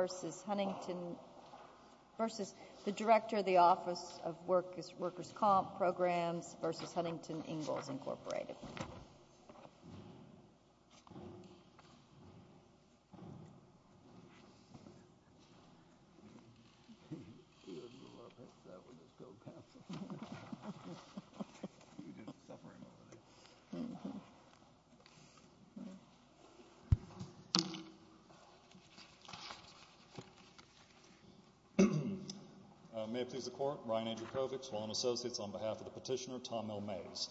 v. Huntington Ingalls, Inc. May it please the Court, Ryan Andrew Kovics, Wallen Associates, on behalf of the petitioner Tom L. Mays.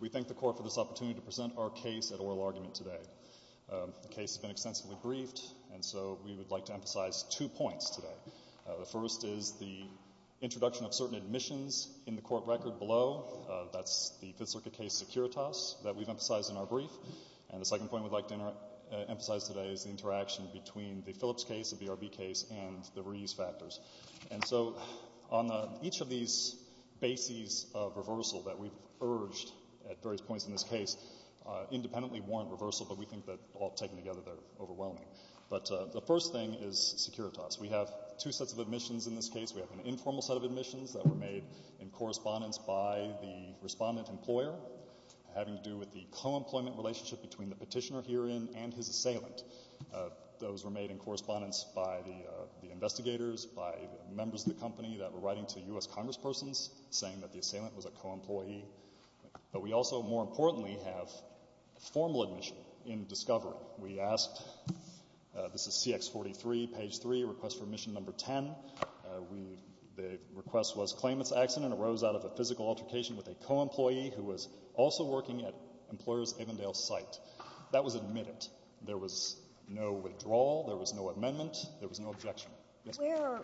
We thank the Court for this opportunity to present our case at oral argument today. The case has been extensively briefed, and so we would like to emphasize two points today. The first is the introduction of certain admissions in the court record below. That's the Fifth Circuit case Securitas that we've emphasized in our brief. And the second point we'd like to emphasize today is the interaction between the Phillips case, the BRB case, and the reuse factors. And so on each of these bases of reversal that we've urged at various points in this case independently warrant reversal, but we think that all taken together, they're overwhelming. But the first thing is Securitas. We have two sets of admissions in this case. We have an informal set of admissions that were made in correspondence by the respondent employer having to do with the co-employment relationship between the petitioner herein and his assailant. Those were made in correspondence by the investigators, by members of the company that were writing to U.S. Congresspersons saying that the assailant was a co-employee. But we also, more importantly, have formal admission in discovery. We asked, this is CX43, page 3, request for admission number 10. The request was claim it's accident arose out of a physical altercation with a co-employee who was also working at Employers Avondale site. That was admitted. There was no withdrawal. There was no amendment. There was no objection. Yes, ma'am.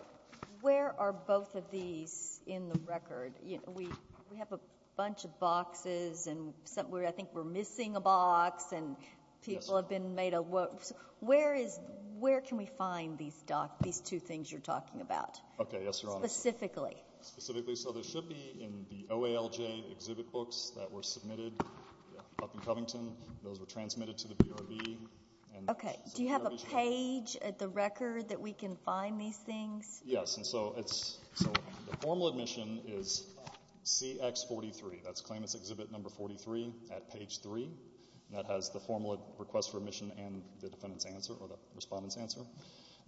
Where are both of these in the record? We have a bunch of boxes and I think we're missing a box, and people have been made aware. Where can we find these two things you're talking about? Okay, yes, Your Honor. Specifically. Specifically. So they should be in the OALJ exhibit books that were submitted up in Covington. Those were transmitted to the BRB. Okay. Do you have a page at the record that we can find these things? Yes. So the formal admission is CX43. That's claim it's exhibit number 43 at page 3. That has the formal request for admission and the defendant's answer or the respondent's answer.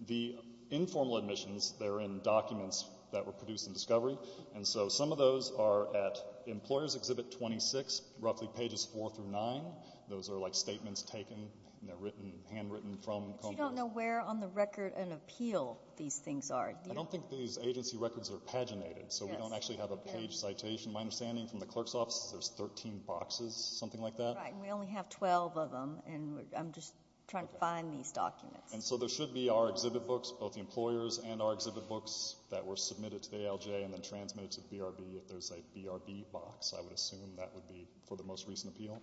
The informal admissions, they're in documents that were produced in discovery, and so some of those are at Employers Exhibit 26, roughly pages 4 through 9. Those are like statements taken and they're handwritten from Covington. But you don't know where on the record and appeal these things are. I don't think these agency records are paginated, so we don't actually have a page citation. My understanding from the clerk's office is there's 13 boxes, something like that. Right, and we only have 12 of them, and I'm just trying to find these documents. And so there should be our exhibit books, both the employers' and our exhibit books, that were submitted to the ALJ and then transmitted to the BRB. If there's a BRB box, I would assume that would be for the most recent appeal.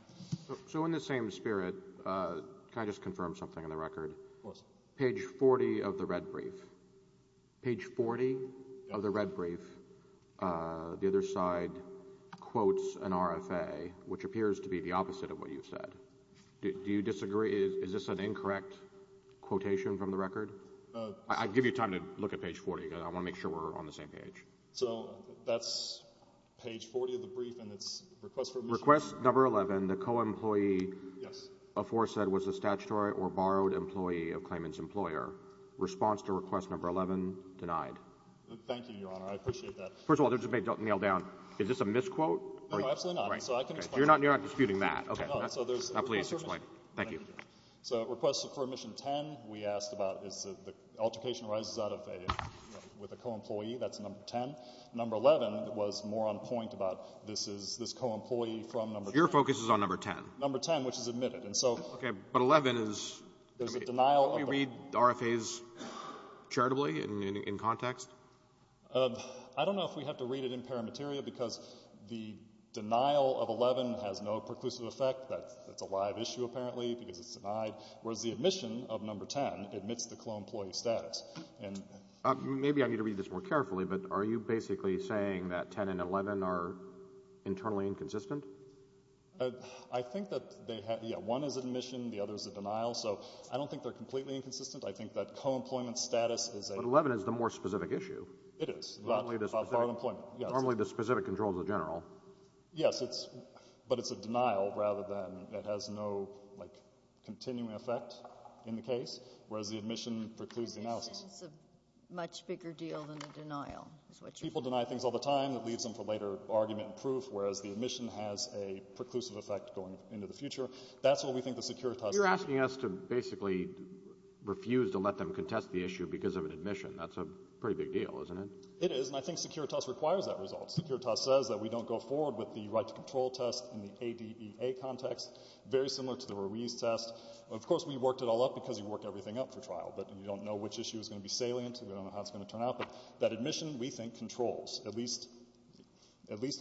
So in the same spirit, can I just confirm something on the record? Of course. Page 40 of the red brief. Page 40 of the red brief. The other side quotes an RFA, which appears to be the opposite of what you said. Do you disagree? Is this an incorrect quotation from the record? I'd give you time to look at page 40. I want to make sure we're on the same page. So that's page 40 of the brief, and it's a request for admission. Request number 11, the co-employee aforesaid was a statutory or borrowed employee of claimant's employer. Response to request number 11, denied. Thank you, Your Honor. I appreciate that. First of all, there's a big nail down. Is this a misquote? No, absolutely not. So I can explain. You're not disputing that. Okay. So there's a request for admission. Now please explain. Thank you. So request for admission 10, we asked about is the altercation arises with a co-employee. That's number 10. Number 11 was more on point about this co-employee from number 10. Your focus is on number 10. Number 10, which is admitted. Okay. But 11 is? We read RFAs charitably in context? I don't know if we have to read it in paramateria because the denial of 11 has no preclusive effect. That's a live issue apparently because it's denied. Whereas the admission of number 10 admits the co-employee status. Maybe I need to read this more carefully, but are you basically saying that 10 and 11 are internally inconsistent? I think that one is admission, the other is a denial. So I don't think they're completely inconsistent. I think that co-employment status is a— But 11 is the more specific issue. It is. Normally the specific control is the general. Yes, but it's a denial rather than it has no continuing effect in the case, whereas the admission precludes the analysis. It's a much bigger deal than a denial. People deny things all the time. It leaves them for later argument and proof, whereas the admission has a preclusive effect going into the future. That's what we think the Securitas— You're asking us to basically refuse to let them contest the issue because of an admission. That's a pretty big deal, isn't it? It is, and I think Securitas requires that result. Securitas says that we don't go forward with the right-to-control test in the ADEA context, very similar to the Ruiz test. Of course, we worked it all up because you work everything up for trial, but you don't know which issue is going to be salient. We don't know how it's going to turn out. But that admission, we think, controls, at least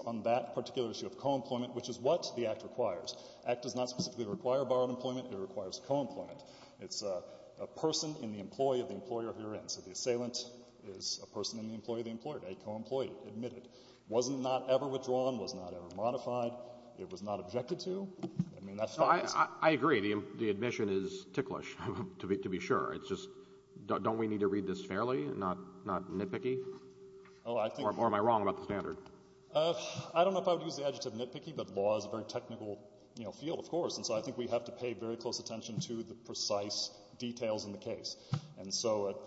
on that particular issue of co-employment, which is what the Act requires. The Act does not specifically require borrowed employment. It requires co-employment. It's a person in the employee of the employer herein. So the assailant is a person in the employee of the employer, a co-employee, admitted, was not ever withdrawn, was not ever modified. It was not objected to. I mean, that's fine. I agree. The admission is ticklish, to be sure. Don't we need to read this fairly and not nitpicky? Or am I wrong about the standard? I don't know if I would use the adjective nitpicky, but law is a very technical field, of course, and so I think we have to pay very close attention to the precise details in the case. And so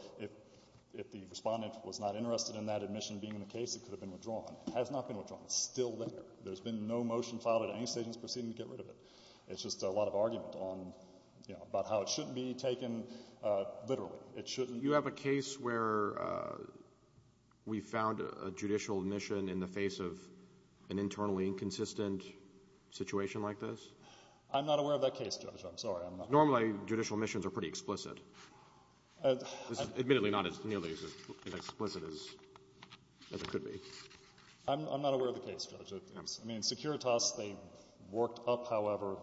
if the respondent was not interested in that admission being in the case, it could have been withdrawn. It has not been withdrawn. It's still there. There's been no motion filed at any stage in this proceeding to get rid of it. It's just a lot of argument on, you know, about how it shouldn't be taken literally. It shouldn't. You have a case where we found a judicial admission in the face of an internally inconsistent situation like this? I'm not aware of that case, Judge. I'm sorry. Normally, judicial admissions are pretty explicit. This is admittedly not nearly as explicit as it could be. I'm not aware of the case, Judge. I mean, Securitas, they worked up, however,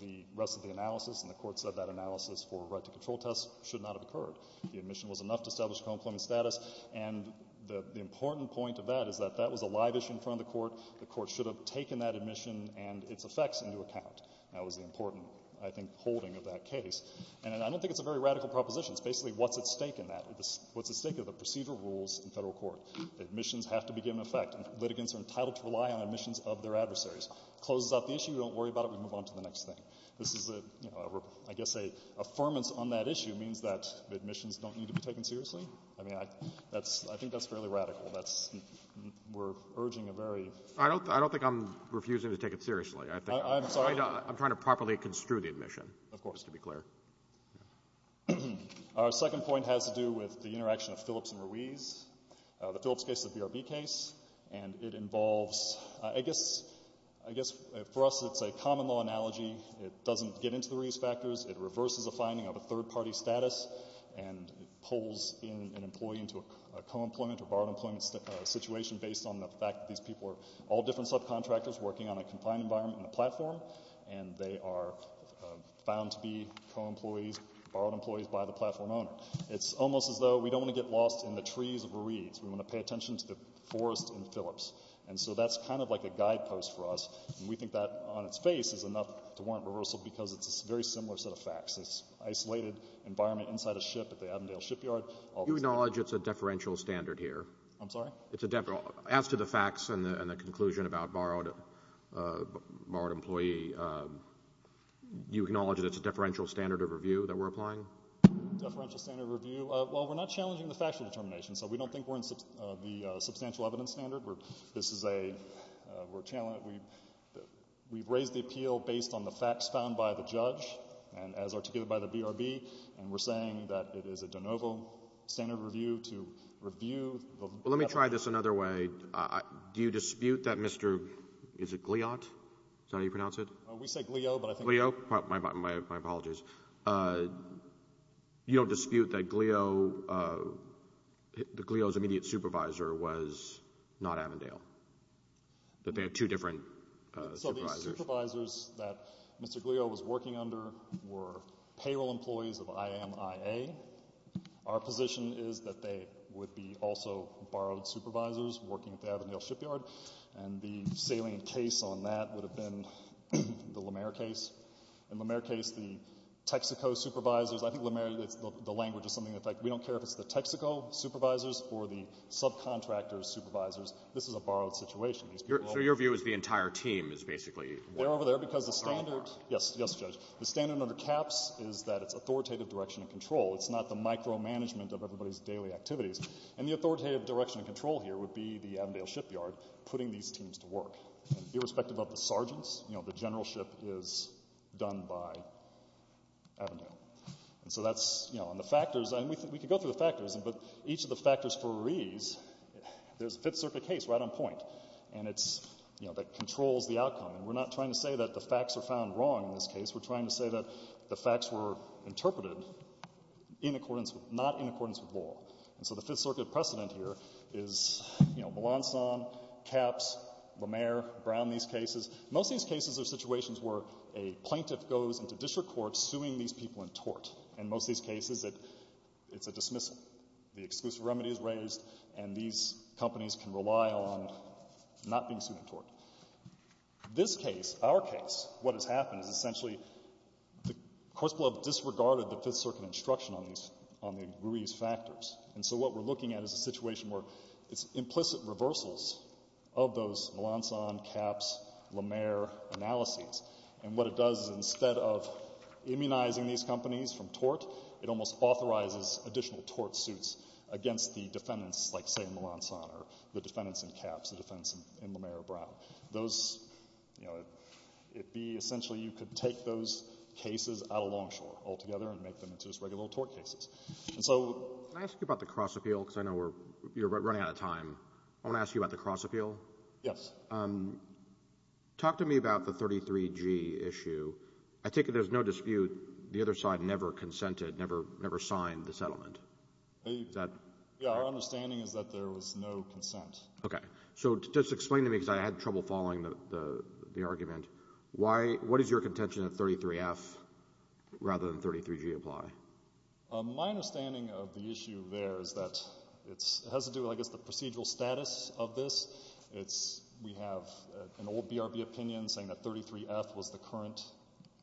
the rest of the analysis, and the Court said that analysis for a right to control test should not have occurred. The admission was enough to establish a compliment status, and the important point of that is that that was a live issue in front of the Court. The Court should have taken that admission and its effects into account. That was the important, I think, holding of that case. And I don't think it's a very radical proposition. It's basically what's at stake in that. What's at stake are the procedural rules in federal court. Admissions have to be given effect. Litigants are entitled to rely on admissions of their adversaries. It closes out the issue. We don't worry about it. We move on to the next thing. This is, I guess, an affirmance on that issue means that the admissions don't need to be taken seriously. I mean, I think that's fairly radical. We're urging a very— I don't think I'm refusing to take it seriously. I'm sorry? I'm trying to properly construe the admission, just to be clear. Of course. Our second point has to do with the interaction of Phillips and Ruiz. The Phillips case is a BRB case, and it involves—I guess, for us, it's a common-law analogy. It doesn't get into the Ruiz factors. It reverses a finding of a third-party status, and it pulls in an employee into a co-employment or borrowed-employment situation based on the fact that these people are all different subcontractors working on a confined environment in a platform, and they are found to be co-employees, borrowed employees by the platform owner. It's almost as though we don't want to get lost in the trees of Ruiz. We want to pay attention to the forest in Phillips. And so that's kind of like a guidepost for us, and we think that on its face is enough to warrant reversal because it's a very similar set of facts. It's an isolated environment inside a ship at the Avondale shipyard. You acknowledge it's a deferential standard here? I'm sorry? As to the facts and the conclusion about borrowed employee, you acknowledge that it's a deferential standard of review that we're applying? Deferential standard of review. Well, we're not challenging the factual determination, so we don't think we're in the substantial evidence standard. This is a challenge. We've raised the appeal based on the facts found by the judge and as articulated by the BRB, and we're saying that it is a de novo standard of review to review. Well, let me try this another way. Do you dispute that Mr. – is it Gliot? Is that how you pronounce it? We say Glio, but I think— Glio? My apologies. You don't dispute that Glio's immediate supervisor was not Avondale, that they had two different supervisors? So the supervisors that Mr. Gliot was working under were payroll employees of IAMIA. Our position is that they would be also borrowed supervisors working at the Avondale shipyard, and the salient case on that would have been the Lamer case. In the Lamer case, the Texaco supervisors—I think Lamer, the language is something that, in fact, we don't care if it's the Texaco supervisors or the subcontractors' supervisors. This is a borrowed situation. So your view is the entire team is basically— They're over there because the standard—yes, yes, Judge. The standard under CAPS is that it's authoritative direction and control. It's not the micromanagement of everybody's daily activities. And the authoritative direction and control here would be the Avondale shipyard putting these teams to work. Irrespective of the sergeants, the general ship is done by Avondale. And so that's—and the factors—and we could go through the factors, but each of the factors for ease, there's a Fifth Circuit case right on point that controls the outcome. And we're not trying to say that the facts are found wrong in this case. We're trying to say that the facts were interpreted not in accordance with law. And so the Fifth Circuit precedent here is, you know, Melanson, CAPS, Lemaire, Brown, these cases. Most of these cases are situations where a plaintiff goes into district court suing these people in tort. In most of these cases, it's a dismissal. The exclusive remedy is raised, and these companies can rely on not being sued in tort. This case, our case, what has happened is essentially the courts below have disregarded the Fifth Circuit instruction on these— and so what we're looking at is a situation where it's implicit reversals of those Melanson, CAPS, Lemaire analyses. And what it does is instead of immunizing these companies from tort, it almost authorizes additional tort suits against the defendants, like, say, Melanson, or the defendants in CAPS, the defendants in Lemaire, Brown. Those—you know, it'd be—essentially you could take those cases out of Longshore altogether and make them into just regular tort cases. And so— Can I ask you about the cross-appeal? Because I know we're—you're running out of time. I want to ask you about the cross-appeal. Yes. Talk to me about the 33G issue. I take it there's no dispute the other side never consented, never signed the settlement. That— Yeah, our understanding is that there was no consent. Okay. So just explain to me, because I had trouble following the argument. Why—what is your contention that 33F rather than 33G apply? My understanding of the issue there is that it has to do with, I guess, the procedural status of this. It's—we have an old BRB opinion saying that 33F was the current,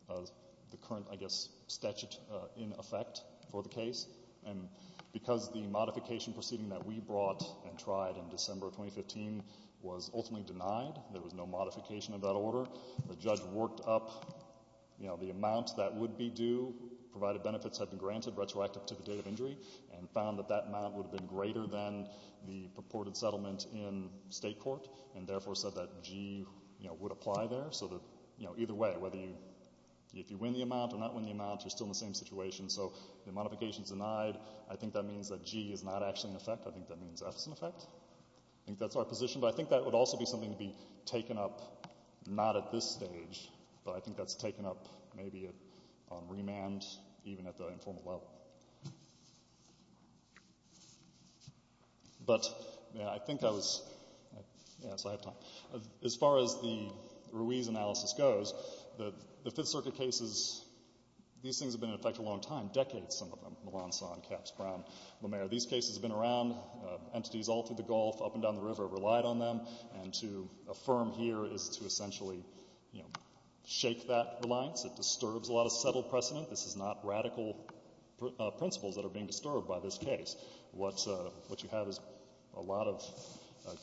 I guess, statute in effect for the case. And because the modification proceeding that we brought and tried in December of 2015 was ultimately denied, there was no modification of that order, the judge worked up, you know, the amount that would be due, provided benefits have been granted retroactive to the date of injury, and found that that amount would have been greater than the purported settlement in state court and therefore said that G, you know, would apply there. So that, you know, either way, whether you—if you win the amount or not win the amount, you're still in the same situation. So the modification's denied. I think that means that G is not actually in effect. I think that means F is in effect. I think that's our position. But I think that would also be something to be taken up not at this stage, but I think that's taken up maybe on remand, even at the informal level. But, yeah, I think I was—yeah, so I have time. As far as the Ruiz analysis goes, the Fifth Circuit cases, these things have been in effect a long time, decades, some of them, Melancon, Caps, Brown, Lemaire. These cases have been around. Entities all through the Gulf, up and down the river have relied on them. And to affirm here is to essentially, you know, shake that reliance. It disturbs a lot of settled precedent. This is not radical principles that are being disturbed by this case. What you have is a lot of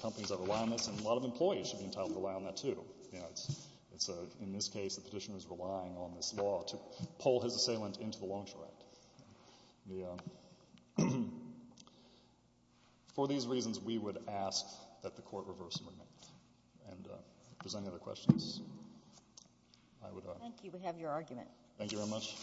companies that rely on this, and a lot of employees should be entitled to rely on that too. You know, in this case, the petitioner is relying on this law to pull his assailant into the Loan Share Act. For these reasons, we would ask that the Court reverse the amendment. And if there's any other questions, I would— Thank you. We have your argument. Thank you very much.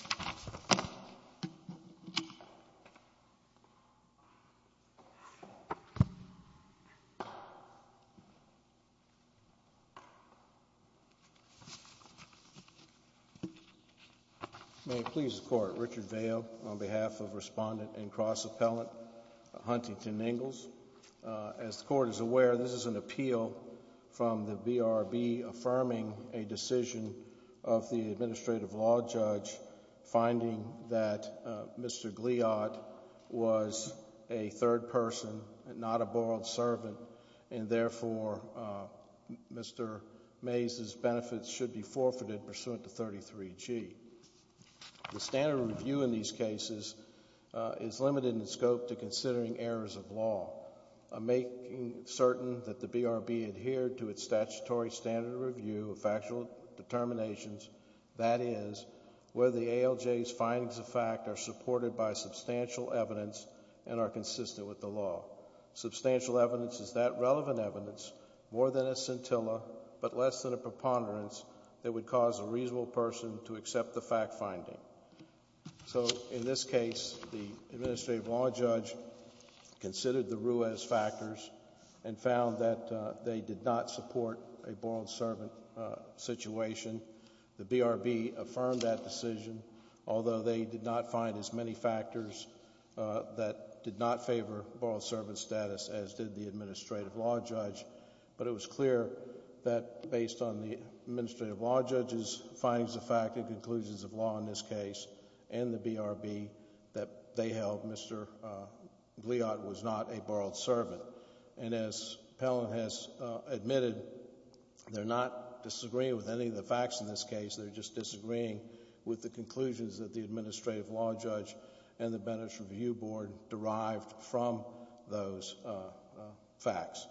May it please the Court. Richard Vail on behalf of Respondent and Cross Appellant Huntington Ingalls. As the Court is aware, this is an appeal from the BRB affirming a decision of the Administrative Law Judge finding that Mr. Gliad was a third person and not a borrowed servant. And therefore, Mr. Mays' benefits should be forfeited pursuant to 33G. The standard review in these cases is limited in scope to considering errors of law. Making certain that the BRB adhered to its statutory standard review of factual determinations, that is, whether the ALJ's findings of fact are supported by substantial evidence and are consistent with the law. Substantial evidence is that relevant evidence, more than a scintilla, but less than a preponderance that would cause a reasonable person to accept the fact finding. In this case, the Administrative Law Judge considered the Ruez factors and found that they did not support a borrowed servant situation. The BRB affirmed that decision, although they did not find as many factors that did not favor borrowed servant status as did the Administrative Law Judge. But it was clear that based on the Administrative Law Judge's findings of fact and conclusions of law in this case and the BRB that they held Mr. Gliad was not a borrowed servant. And as Pellin has admitted, they're not disagreeing with any of the facts in this case. They're just disagreeing with the conclusions that the Administrative Law Judge and the Benefits Review Board derived from those facts.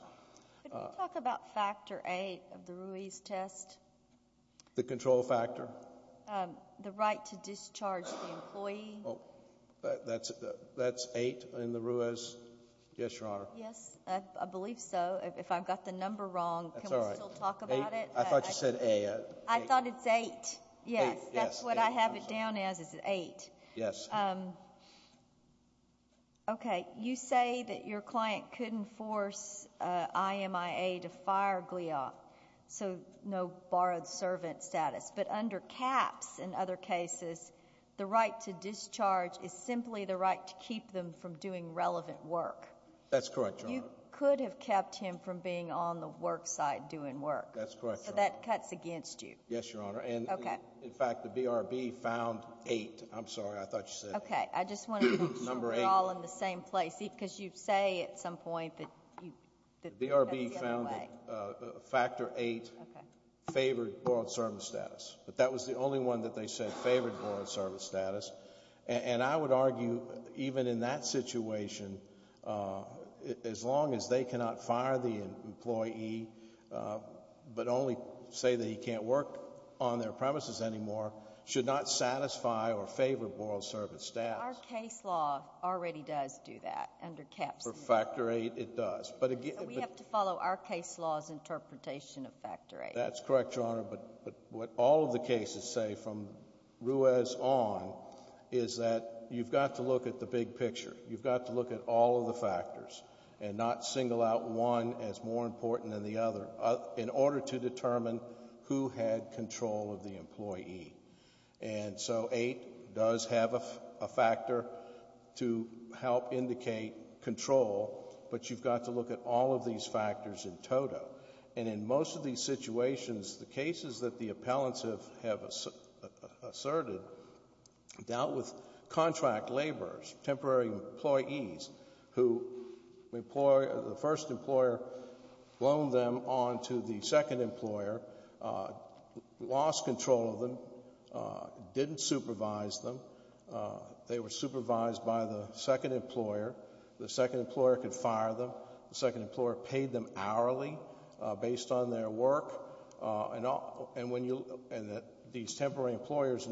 Could you talk about factor eight of the Ruez test? The control factor? The right to discharge the employee. That's eight in the Ruez? Yes, Your Honor. Yes, I believe so. If I've got the number wrong, can we still talk about it? That's all right. I thought you said eight. I thought it's eight. Eight, yes. That's what I have it down as is eight. Yes. Okay. You say that your client couldn't force IMIA to fire Gliad, so no borrowed servant status. But under caps in other cases, the right to discharge is simply the right to keep them from doing relevant work. That's correct, Your Honor. You could have kept him from being on the work site doing work. That's correct, Your Honor. So that cuts against you. Yes, Your Honor. Okay. In fact, the BRB found eight. I'm sorry. I thought you said eight. Okay. I just wanted to make sure we're all in the same place. Because you say at some point that that's the other way. The BRB found that factor eight favored borrowed servant status. But that was the only one that they said favored borrowed servant status. And I would argue even in that situation, as long as they cannot fire the employee but only say that he can't work on their premises anymore, should not satisfy or favor borrowed servant status. Our case law already does do that under caps. For factor eight, it does. We have to follow our case law's interpretation of factor eight. That's correct, Your Honor. But what all of the cases say from Ruiz on is that you've got to look at the big picture. You've got to look at all of the factors and not single out one as more important than the other in order to determine who had control of the employee. And so eight does have a factor to help indicate control, but you've got to look at all of these factors in total. And in most of these situations, the cases that the appellants have asserted dealt with contract laborers, temporary employees who the first employer loaned them on to the second employer, lost control of them, didn't supervise them. They were supervised by the second employer. The second employer could fire them. The second employer paid them hourly based on their work. And these temporary employees,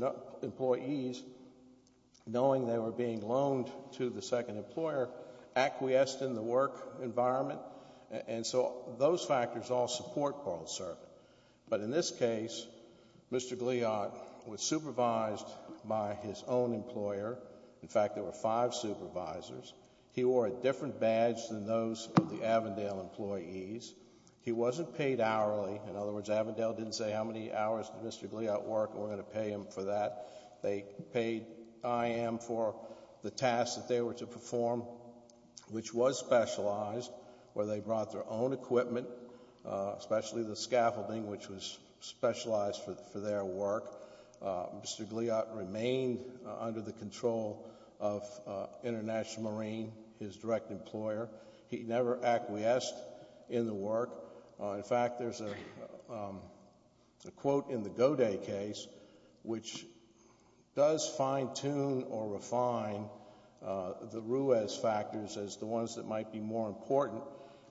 knowing they were being loaned to the second employer, acquiesced in the work environment. And so those factors all support parole serving. But in this case, Mr. Gliot was supervised by his own employer. In fact, there were five supervisors. He wore a different badge than those of the Avondale employees. He wasn't paid hourly. In other words, Avondale didn't say, how many hours did Mr. Gliot work? We're going to pay him for that. They paid IM for the tasks that they were to perform, which was specialized, where they brought their own equipment, especially the scaffolding, which was specialized for their work. Mr. Gliot remained under the control of International Marine, his direct employer. He never acquiesced in the work. In fact, there's a quote in the Goday case, which does fine-tune or refine the Ruiz factors as the ones that might be more important.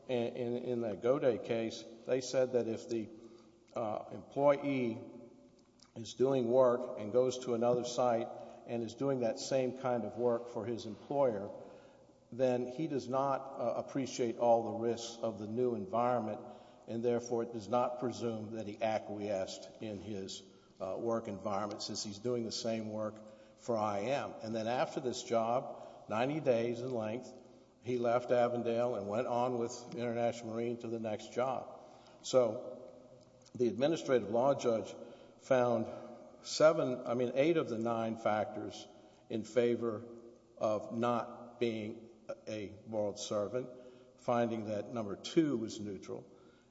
In the Goday case, they said that if the employee is doing work and goes to another site and is doing that same kind of work for his employer, then he does not appreciate all the risks of the new environment, and therefore does not presume that he acquiesced in his work environment since he's doing the same work for IM. Then after this job, 90 days in length, he left Avondale and went on with International Marine to the next job. The administrative law judge found eight of the nine factors in favor of not being a borrowed servant, finding that number two was neutral.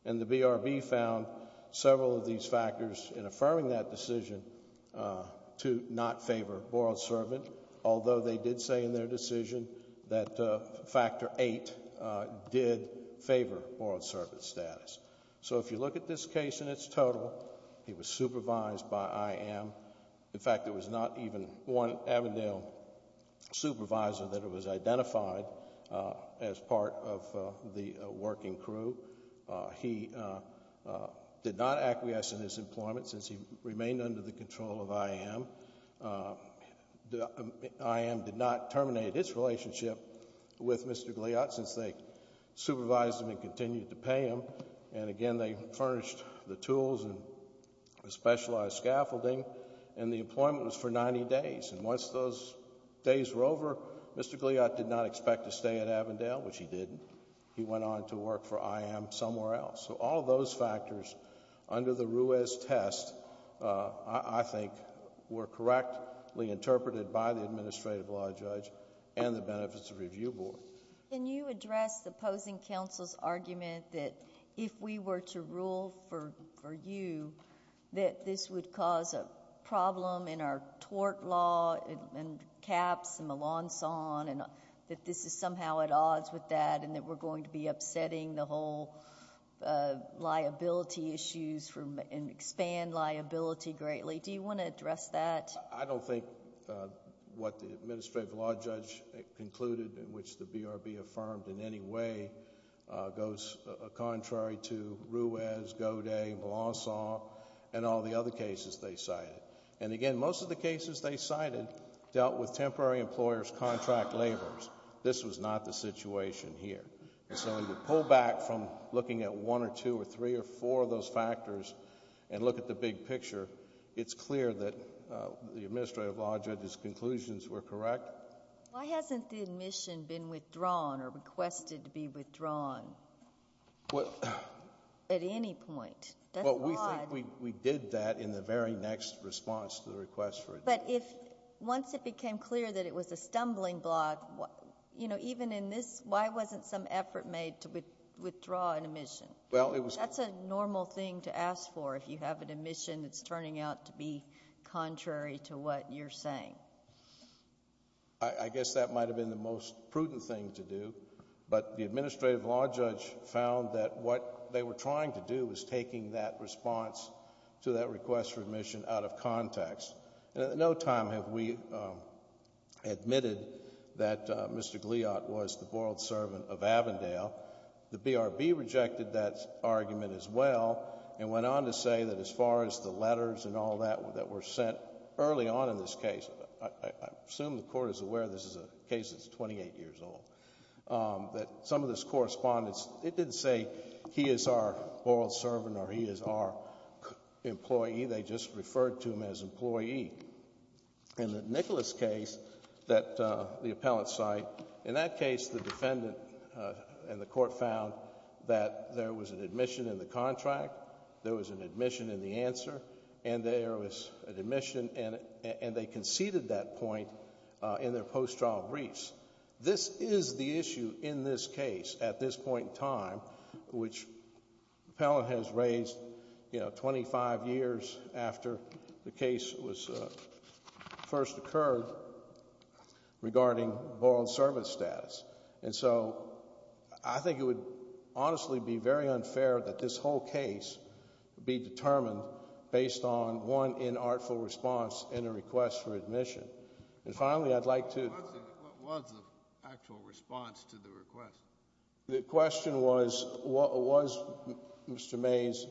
The BRB found several of these factors in affirming that decision to not favor borrowed servant, although they did say in their decision that factor eight did favor borrowed servant status. If you look at this case in its total, he was supervised by IM. In fact, there was not even one Avondale supervisor that was identified as part of the working crew. He did not acquiesce in his employment since he remained under the control of IM. IM did not terminate its relationship with Mr. Goliath since they supervised him and continued to pay him. Again, they furnished the tools and specialized scaffolding, and the employment was for 90 days. Once those days were over, Mr. Goliath did not expect to stay at Avondale, which he didn't. He went on to work for IM somewhere else. All those factors under the Ruiz test, I think, were correctly interpreted by the administrative law judge and the Benefits Review Board. Can you address the opposing counsel's argument that if we were to rule for you, that this would cause a problem in our tort law and caps and the lawn saw, and that this is somehow at odds with that, and that we're going to be upsetting the whole liability issues and expand liability greatly? Do you want to address that? I don't think what the administrative law judge concluded, which the BRB affirmed in any way, goes contrary to Ruiz, Godet, lawn saw, and all the other cases they cited. Again, most of the cases they cited dealt with temporary employers, contract laborers. This was not the situation here. When you pull back from looking at one or two or three or four of those factors and look at the big picture, it's clear that the administrative law judge's conclusions were correct. Why hasn't the admission been withdrawn or requested to be withdrawn at any point? We think we did that in the very next response to the request for it. But once it became clear that it was a stumbling block, even in this, why wasn't some effort made to withdraw an admission? That's a normal thing to ask for. If you have an admission that's turning out to be contrary to what you're saying. I guess that might have been the most prudent thing to do, but the administrative law judge found that what they were trying to do was taking that response to that request for admission out of context. No time have we admitted that Mr. Gliot was the boiled servant of Avondale. The BRB rejected that argument as well and went on to say that as far as the letters and all that that were sent early on in this case, I assume the Court is aware this is a case that's 28 years old, that some of this correspondence, it didn't say he is our boiled servant or he is our employee. They just referred to him as employee. In the Nicholas case that the appellant cite, in that case the defendant and the Court found that there was an admission in the contract, there was an admission in the answer, and there was an admission and they conceded that point in their post-trial briefs. This is the issue in this case at this point in time, which the appellant has raised 25 years after the case first occurred regarding boiled servant status. I think it would honestly be very unfair that this whole case be determined based on one inartful response and a request for admission. What was the actual response to the request? The question was, was Mr. Mays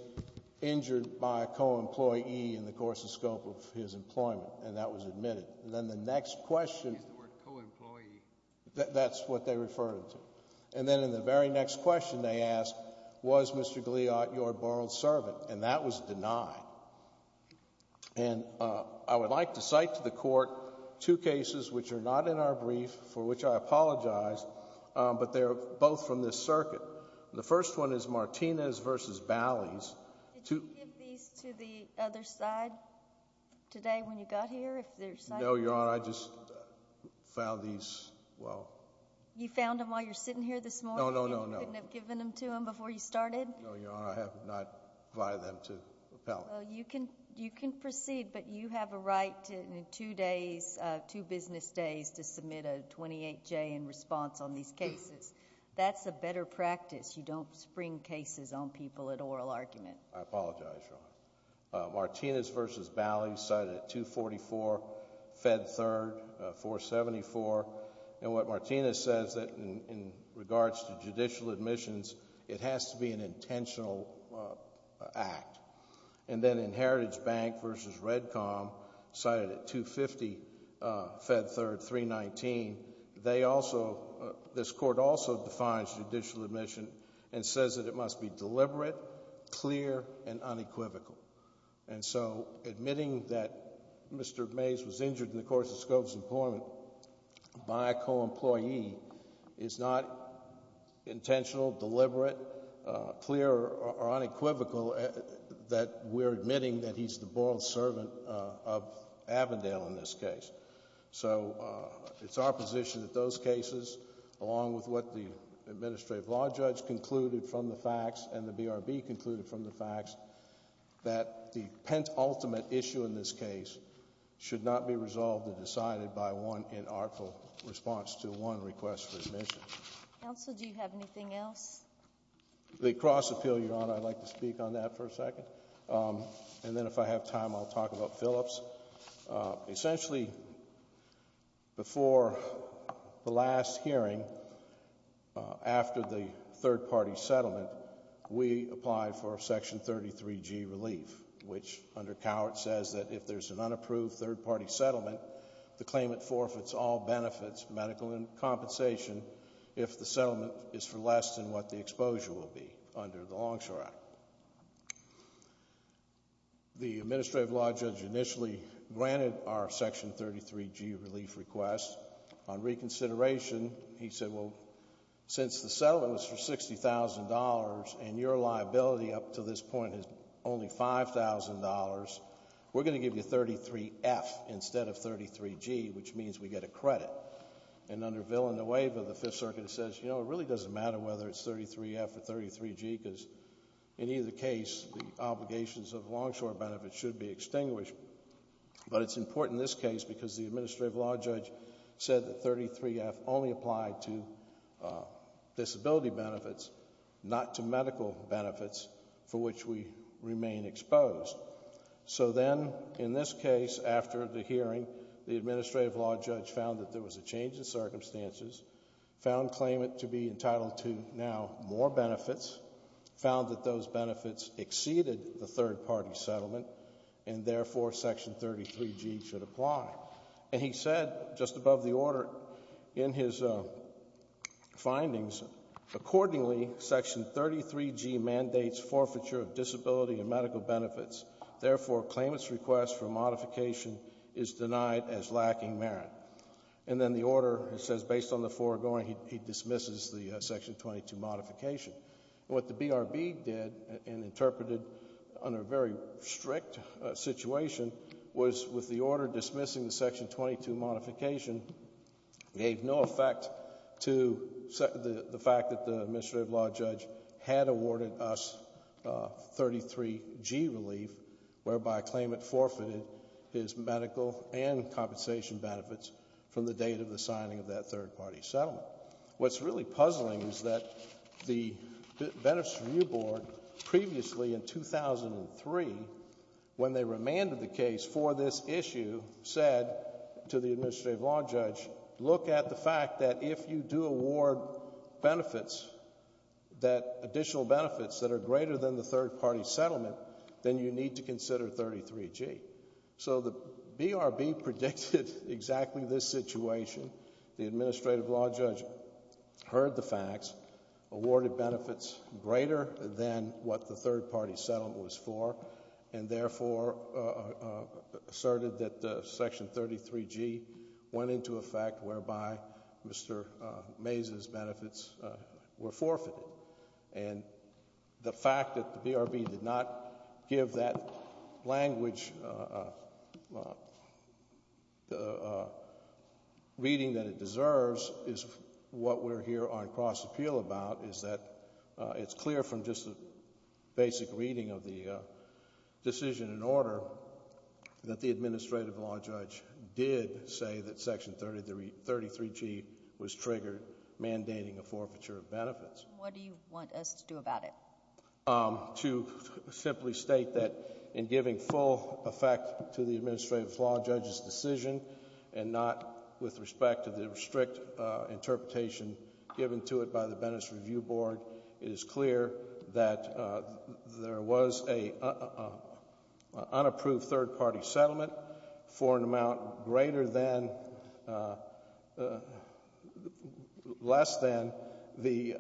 injured by a co-employee in the course and scope of his employment? And that was admitted. And then the next question… He used the word co-employee. That's what they referred him to. And then in the very next question they asked, was Mr. Gliot your boiled servant? And that was denied. And I would like to cite to the Court two cases which are not in our brief, for which I apologize, but they're both from this circuit. The first one is Martinez v. Bally's. Did you give these to the other side today when you got here? No, Your Honor, I just found these, well… You found them while you were sitting here this morning? No, no, no, no. You couldn't have given them to them before you started? No, Your Honor, I have not provided them to appellate. Well, you can proceed, but you have a right in two business days to submit a 28-J in response on these cases. That's a better practice. You don't spring cases on people at oral argument. I apologize, Your Honor. Martinez v. Bally, cited at 244, Fed Third, 474. And what Martinez says in regards to judicial admissions, it has to be an intentional act. And then in Heritage Bank v. REDCOM, cited at 250, Fed Third, 319. They also, this Court also defines judicial admission and says that it must be deliberate, clear, and unequivocal. And so, admitting that Mr. Mays was injured in the course of Scobie's employment by a co-employee is not intentional, deliberate, clear, or unequivocal that we're admitting that he's the borrowed servant of Avondale in this case. So, it's our position that those cases, along with what the administrative law judge concluded from the facts and the BRB concluded from the facts, that the penultimate issue in this case should not be resolved or decided by one inartful response to one request for admission. Counsel, do you have anything else? The cross appeal, Your Honor, I'd like to speak on that for a second. And then if I have time, I'll talk about Phillips. Essentially, before the last hearing, after the third-party settlement, we applied for Section 33G relief, which under Cowart says that if there's an unapproved third-party settlement, the claimant forfeits all benefits, medical and compensation, if the settlement is for less than what the exposure would be under the Longshore Act. The administrative law judge initially granted our Section 33G relief request. On reconsideration, he said, well, since the settlement was for $60,000 and your liability up to this point is only $5,000, we're going to give you 33F instead of 33G, which means we get a credit. And under Villanueva, the Fifth Circuit says, you know, it really doesn't matter whether it's 33F or 33G because in either case, the obligations of Longshore benefits should be extinguished. But it's important in this case because the administrative law judge said that 33F only applied to disability benefits, not to medical benefits for which we remain exposed. So then in this case, after the hearing, the administrative law judge found that there was a change in circumstances, found claimant to be entitled to now more benefits, found that those benefits exceeded the third-party settlement, and therefore Section 33G should apply. And he said just above the order in his findings, accordingly, Section 33G mandates forfeiture of disability and medical benefits. Therefore, claimant's request for modification is denied as lacking merit. And then the order says based on the foregoing, he dismisses the Section 22 modification. What the BRB did and interpreted under a very strict situation was with the order dismissing the Section 22 modification, gave no effect to the fact that the administrative law judge had awarded us 33G relief, whereby claimant forfeited his medical and compensation benefits from the date of the signing of that third-party settlement. What's really puzzling is that the Benefits Review Board previously in 2003, when they remanded the case for this issue, said to the administrative law judge, look at the fact that if you do award benefits, that additional benefits that are greater than the third-party settlement, then you need to consider 33G. So the BRB predicted exactly this situation. The administrative law judge heard the facts, awarded benefits greater than what the third-party settlement was for, and therefore asserted that Section 33G went into effect whereby Mr. Mays's benefits were forfeited. And the fact that the BRB did not give that language the reading that it deserves is what we're here on cross-appeal about, is that it's clear from just a basic reading of the decision and order that the administrative law judge did say that Section 33G was triggered mandating a forfeiture of benefits. What do you want us to do about it? To simply state that in giving full effect to the administrative law judge's decision and not with respect to the strict interpretation given to it by the Benefits Review Board, it is clear that there was an unapproved third-party settlement for an amount less than the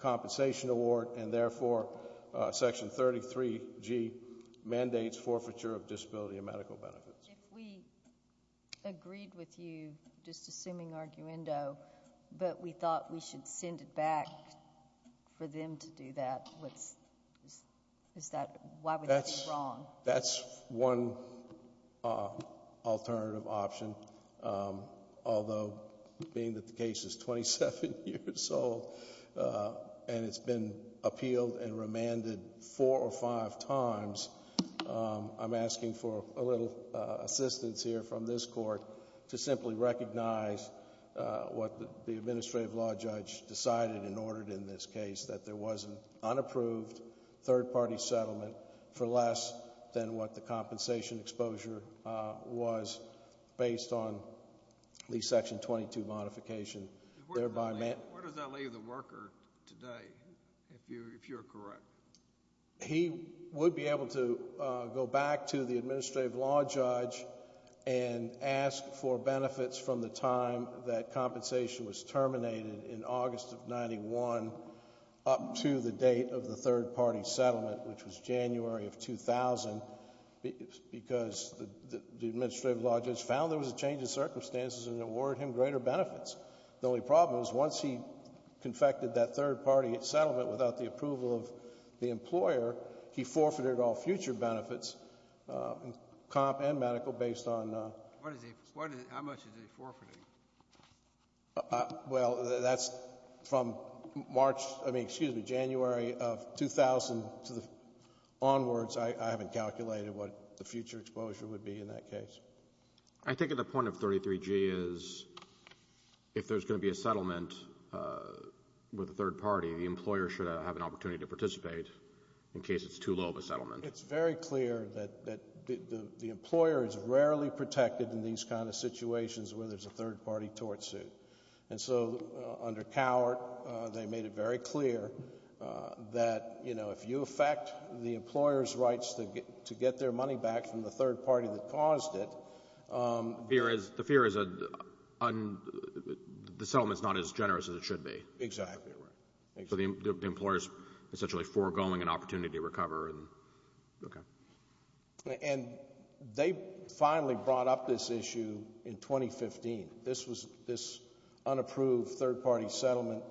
compensation award, and therefore Section 33G mandates forfeiture of disability and medical benefits. If we agreed with you, just assuming arguendo, but we thought we should send it back for them to do that, why would that be wrong? That's one alternative option. Although being that the case is 27 years old and it's been appealed and remanded four or five times, I'm asking for a little assistance here from this Court to simply recognize what the administrative law judge decided and ordered in this case, that there was an unapproved third-party settlement for less than what the compensation exposure was based on the Section 22 modification. Where does that leave the worker today, if you're correct? He would be able to go back to the administrative law judge and ask for benefits from the time that compensation was terminated in August of 1991 up to the date of the third-party settlement, which was January of 2000, because the administrative law judge found there was a change in circumstances and awarded him greater benefits. The only problem was once he confected that third-party settlement without the approval of the employer, he forfeited all future benefits, comp and medical, based on... How much is he forfeiting? Well, that's from January of 2000 onwards. I haven't calculated what the future exposure would be in that case. I think the point of 33G is if there's going to be a settlement with a third party, the employer should have an opportunity to participate in case it's too low of a settlement. It's very clear that the employer is rarely protected in these kind of situations where there's a third-party tort suit. And so under Cowart, they made it very clear that, you know, if you affect the employer's rights to get their money back from the third party that caused it... The fear is the settlement's not as generous as it should be. Exactly right. So the employer's essentially foregoing an opportunity to recover. And they finally brought up this issue in 2015. This unapproved third-party settlement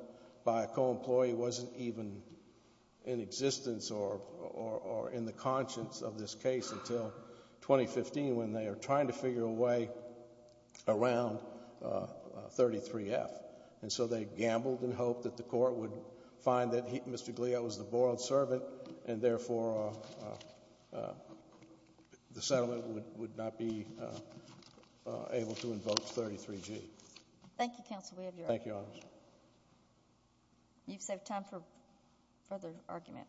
by a co-employee wasn't even in existence or in the conscience of this case until 2015 when they were trying to figure a way around 33F. And so they gambled and hoped that the court would find that Mr. Galea was the borrowed servant and therefore the settlement would not be able to invoke 33G. Thank you, counsel. We have your argument. Thank you, Your Honor. You've saved time for further argument.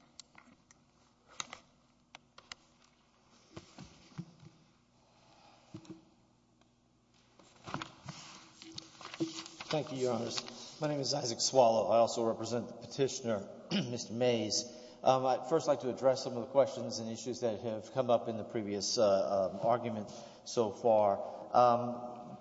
Thank you, Your Honor. My name is Isaac Swallow. I also represent the petitioner, Mr. Mays. I'd first like to address some of the questions and issues that have come up in the previous argument so far.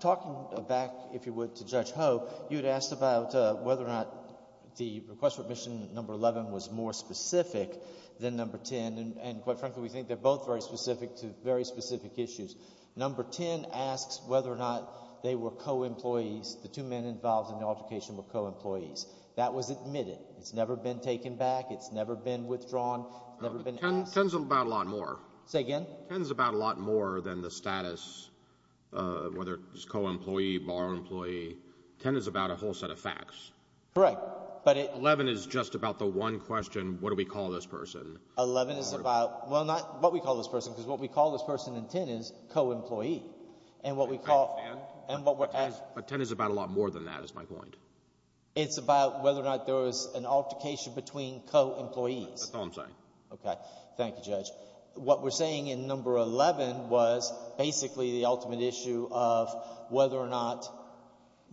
Talking back, if you would, to Judge Ho, you had asked about whether or not the request for admission, number 11, was more specific than number 10. And quite frankly, we think they're both very specific to very specific issues. Number 10 asks whether or not they were co-employees, the two men involved in the altercation were co-employees. That was admitted. It's never been taken back. It's never been withdrawn. It's never been asked. Ten's about a lot more. Say again? Ten's about a lot more than the status, whether it's co-employee, borrowed employee. Ten is about a whole set of facts. Correct. Eleven is just about the one question, what do we call this person? Eleven is about, well, not what we call this person because what we call this person in ten is co-employee. But ten is about a lot more than that is my point. It's about whether or not there was an altercation between co-employees. That's all I'm saying. Okay. Thank you, Judge. What we're saying in number 11 was basically the ultimate issue of whether or not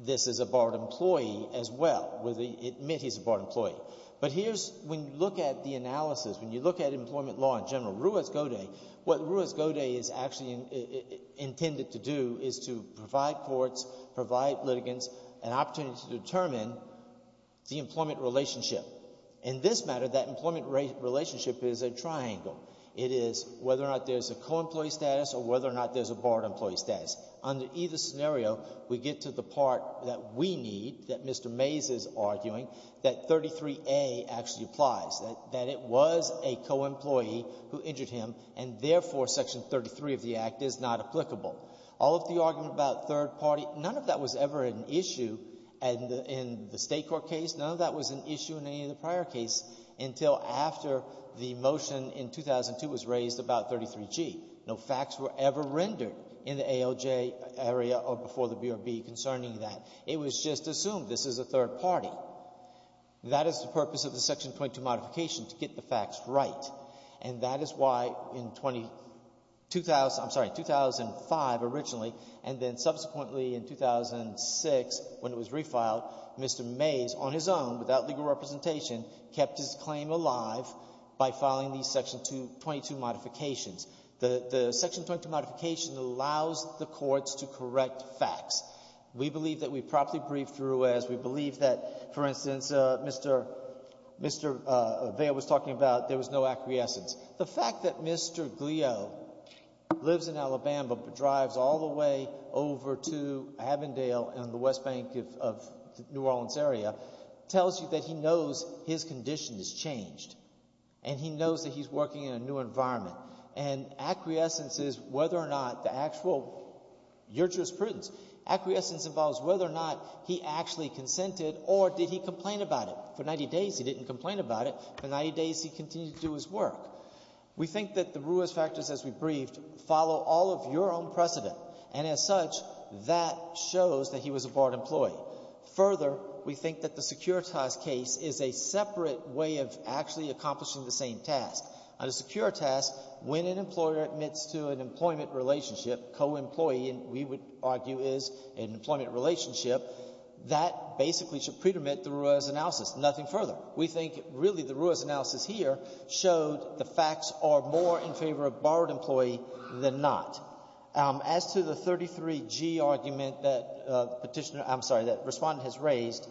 this is a borrowed employee as well, whether he admit he's a borrowed employee. But here's, when you look at the analysis, when you look at employment law in general, Ruiz-Godet, what Ruiz-Godet is actually intended to do is to provide courts, provide litigants an opportunity to determine the employment relationship. In this matter, that employment relationship is a triangle. It is whether or not there's a co-employee status or whether or not there's a borrowed employee status. Under either scenario, we get to the part that we need, that Mr. Mays is arguing, that 33A actually applies, that it was a co-employee who injured him and, therefore, Section 33 of the Act is not applicable. All of the argument about third party, none of that was ever an issue in the State court case. None of that was an issue in any of the prior case until after the motion in 2002 was raised about 33G. No facts were ever rendered in the ALJ area or before the BRB concerning that. It was just assumed this is a third party. That is the purpose of the Section 22 modification, to get the facts right. And that is why in 2005, originally, and then subsequently in 2006, when it was refiled, Mr. Mays, on his own, without legal representation, kept his claim alive by filing these Section 22 modifications. The Section 22 modification allows the courts to correct facts. We believe that we properly briefed through as. We believe that, for instance, Mr. Vail was talking about there was no acquiescence. The fact that Mr. Glio lives in Alabama but drives all the way over to Avondale and the West Bank of New Orleans area tells you that he knows his condition has changed and he knows that he's working in a new environment. And acquiescence is whether or not the actual, your jurisprudence. Acquiescence involves whether or not he actually consented or did he complain about it. For 90 days, he didn't complain about it. For 90 days, he continued to do his work. We think that the Ruiz factors, as we briefed, follow all of your own precedent. And as such, that shows that he was a barred employee. Further, we think that the Securitas case is a separate way of actually accomplishing the same task. Under Securitas, when an employer admits to an employment relationship, co-employee, and we would argue is an employment relationship, that basically should predomit the Ruiz analysis. Nothing further. We think, really, the Ruiz analysis here showed the facts are more in favor of barred employee than not. As to the 33G argument that Petitioner—I'm sorry, that Respondent has raised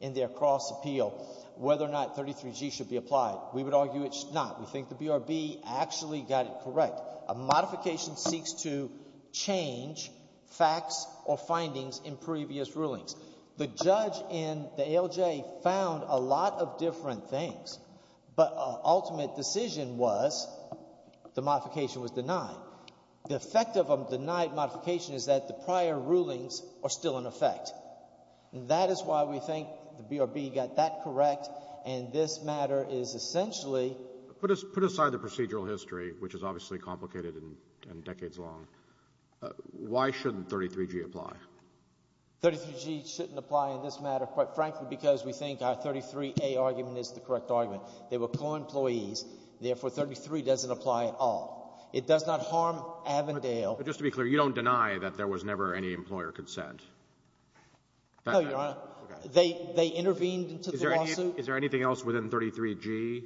in their cross appeal, whether or not 33G should be applied, we would argue it should not. We think the BRB actually got it correct. A modification seeks to change facts or findings in previous rulings. The judge in the ALJ found a lot of different things, but ultimate decision was the modification was denied. The effect of a denied modification is that the prior rulings are still in effect. That is why we think the BRB got that correct, and this matter is essentially— Put aside the procedural history, which is obviously complicated and decades long. Why shouldn't 33G apply? 33G shouldn't apply in this matter, quite frankly, because we think our 33A argument is the correct argument. They were co-employees. Therefore, 33 doesn't apply at all. It does not harm Avondale— No, Your Honor. They intervened into the lawsuit. Is there anything else within 33G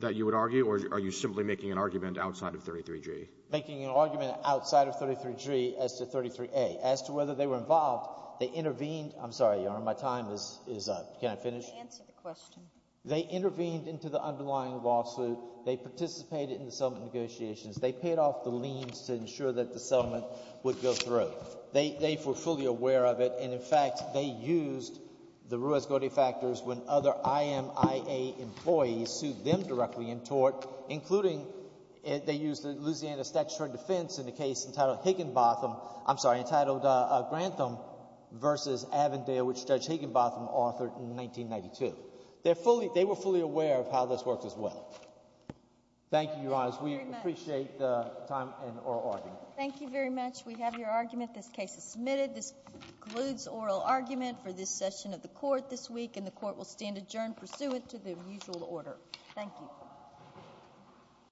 that you would argue, or are you simply making an argument outside of 33G? Making an argument outside of 33G as to 33A. As to whether they were involved, they intervened—I'm sorry, Your Honor, my time is up. Can I finish? Answer the question. They intervened into the underlying lawsuit. They participated in the settlement negotiations. They paid off the liens to ensure that the settlement would go through. They were fully aware of it, and, in fact, they used the Ruiz-Gordy factors when other IMIA employees sued them directly in tort, including they used the Louisiana Statute of Defense in the case entitled Higginbotham— I'm sorry, entitled Grantham v. Avondale, which Judge Higginbotham authored in 1992. They were fully aware of how this works as well. Thank you, Your Honor. We appreciate the time and our argument. Thank you very much. We have your argument. This case is submitted. This concludes oral argument for this session of the court this week, and the court will stand adjourned pursuant to the usual order. Thank you.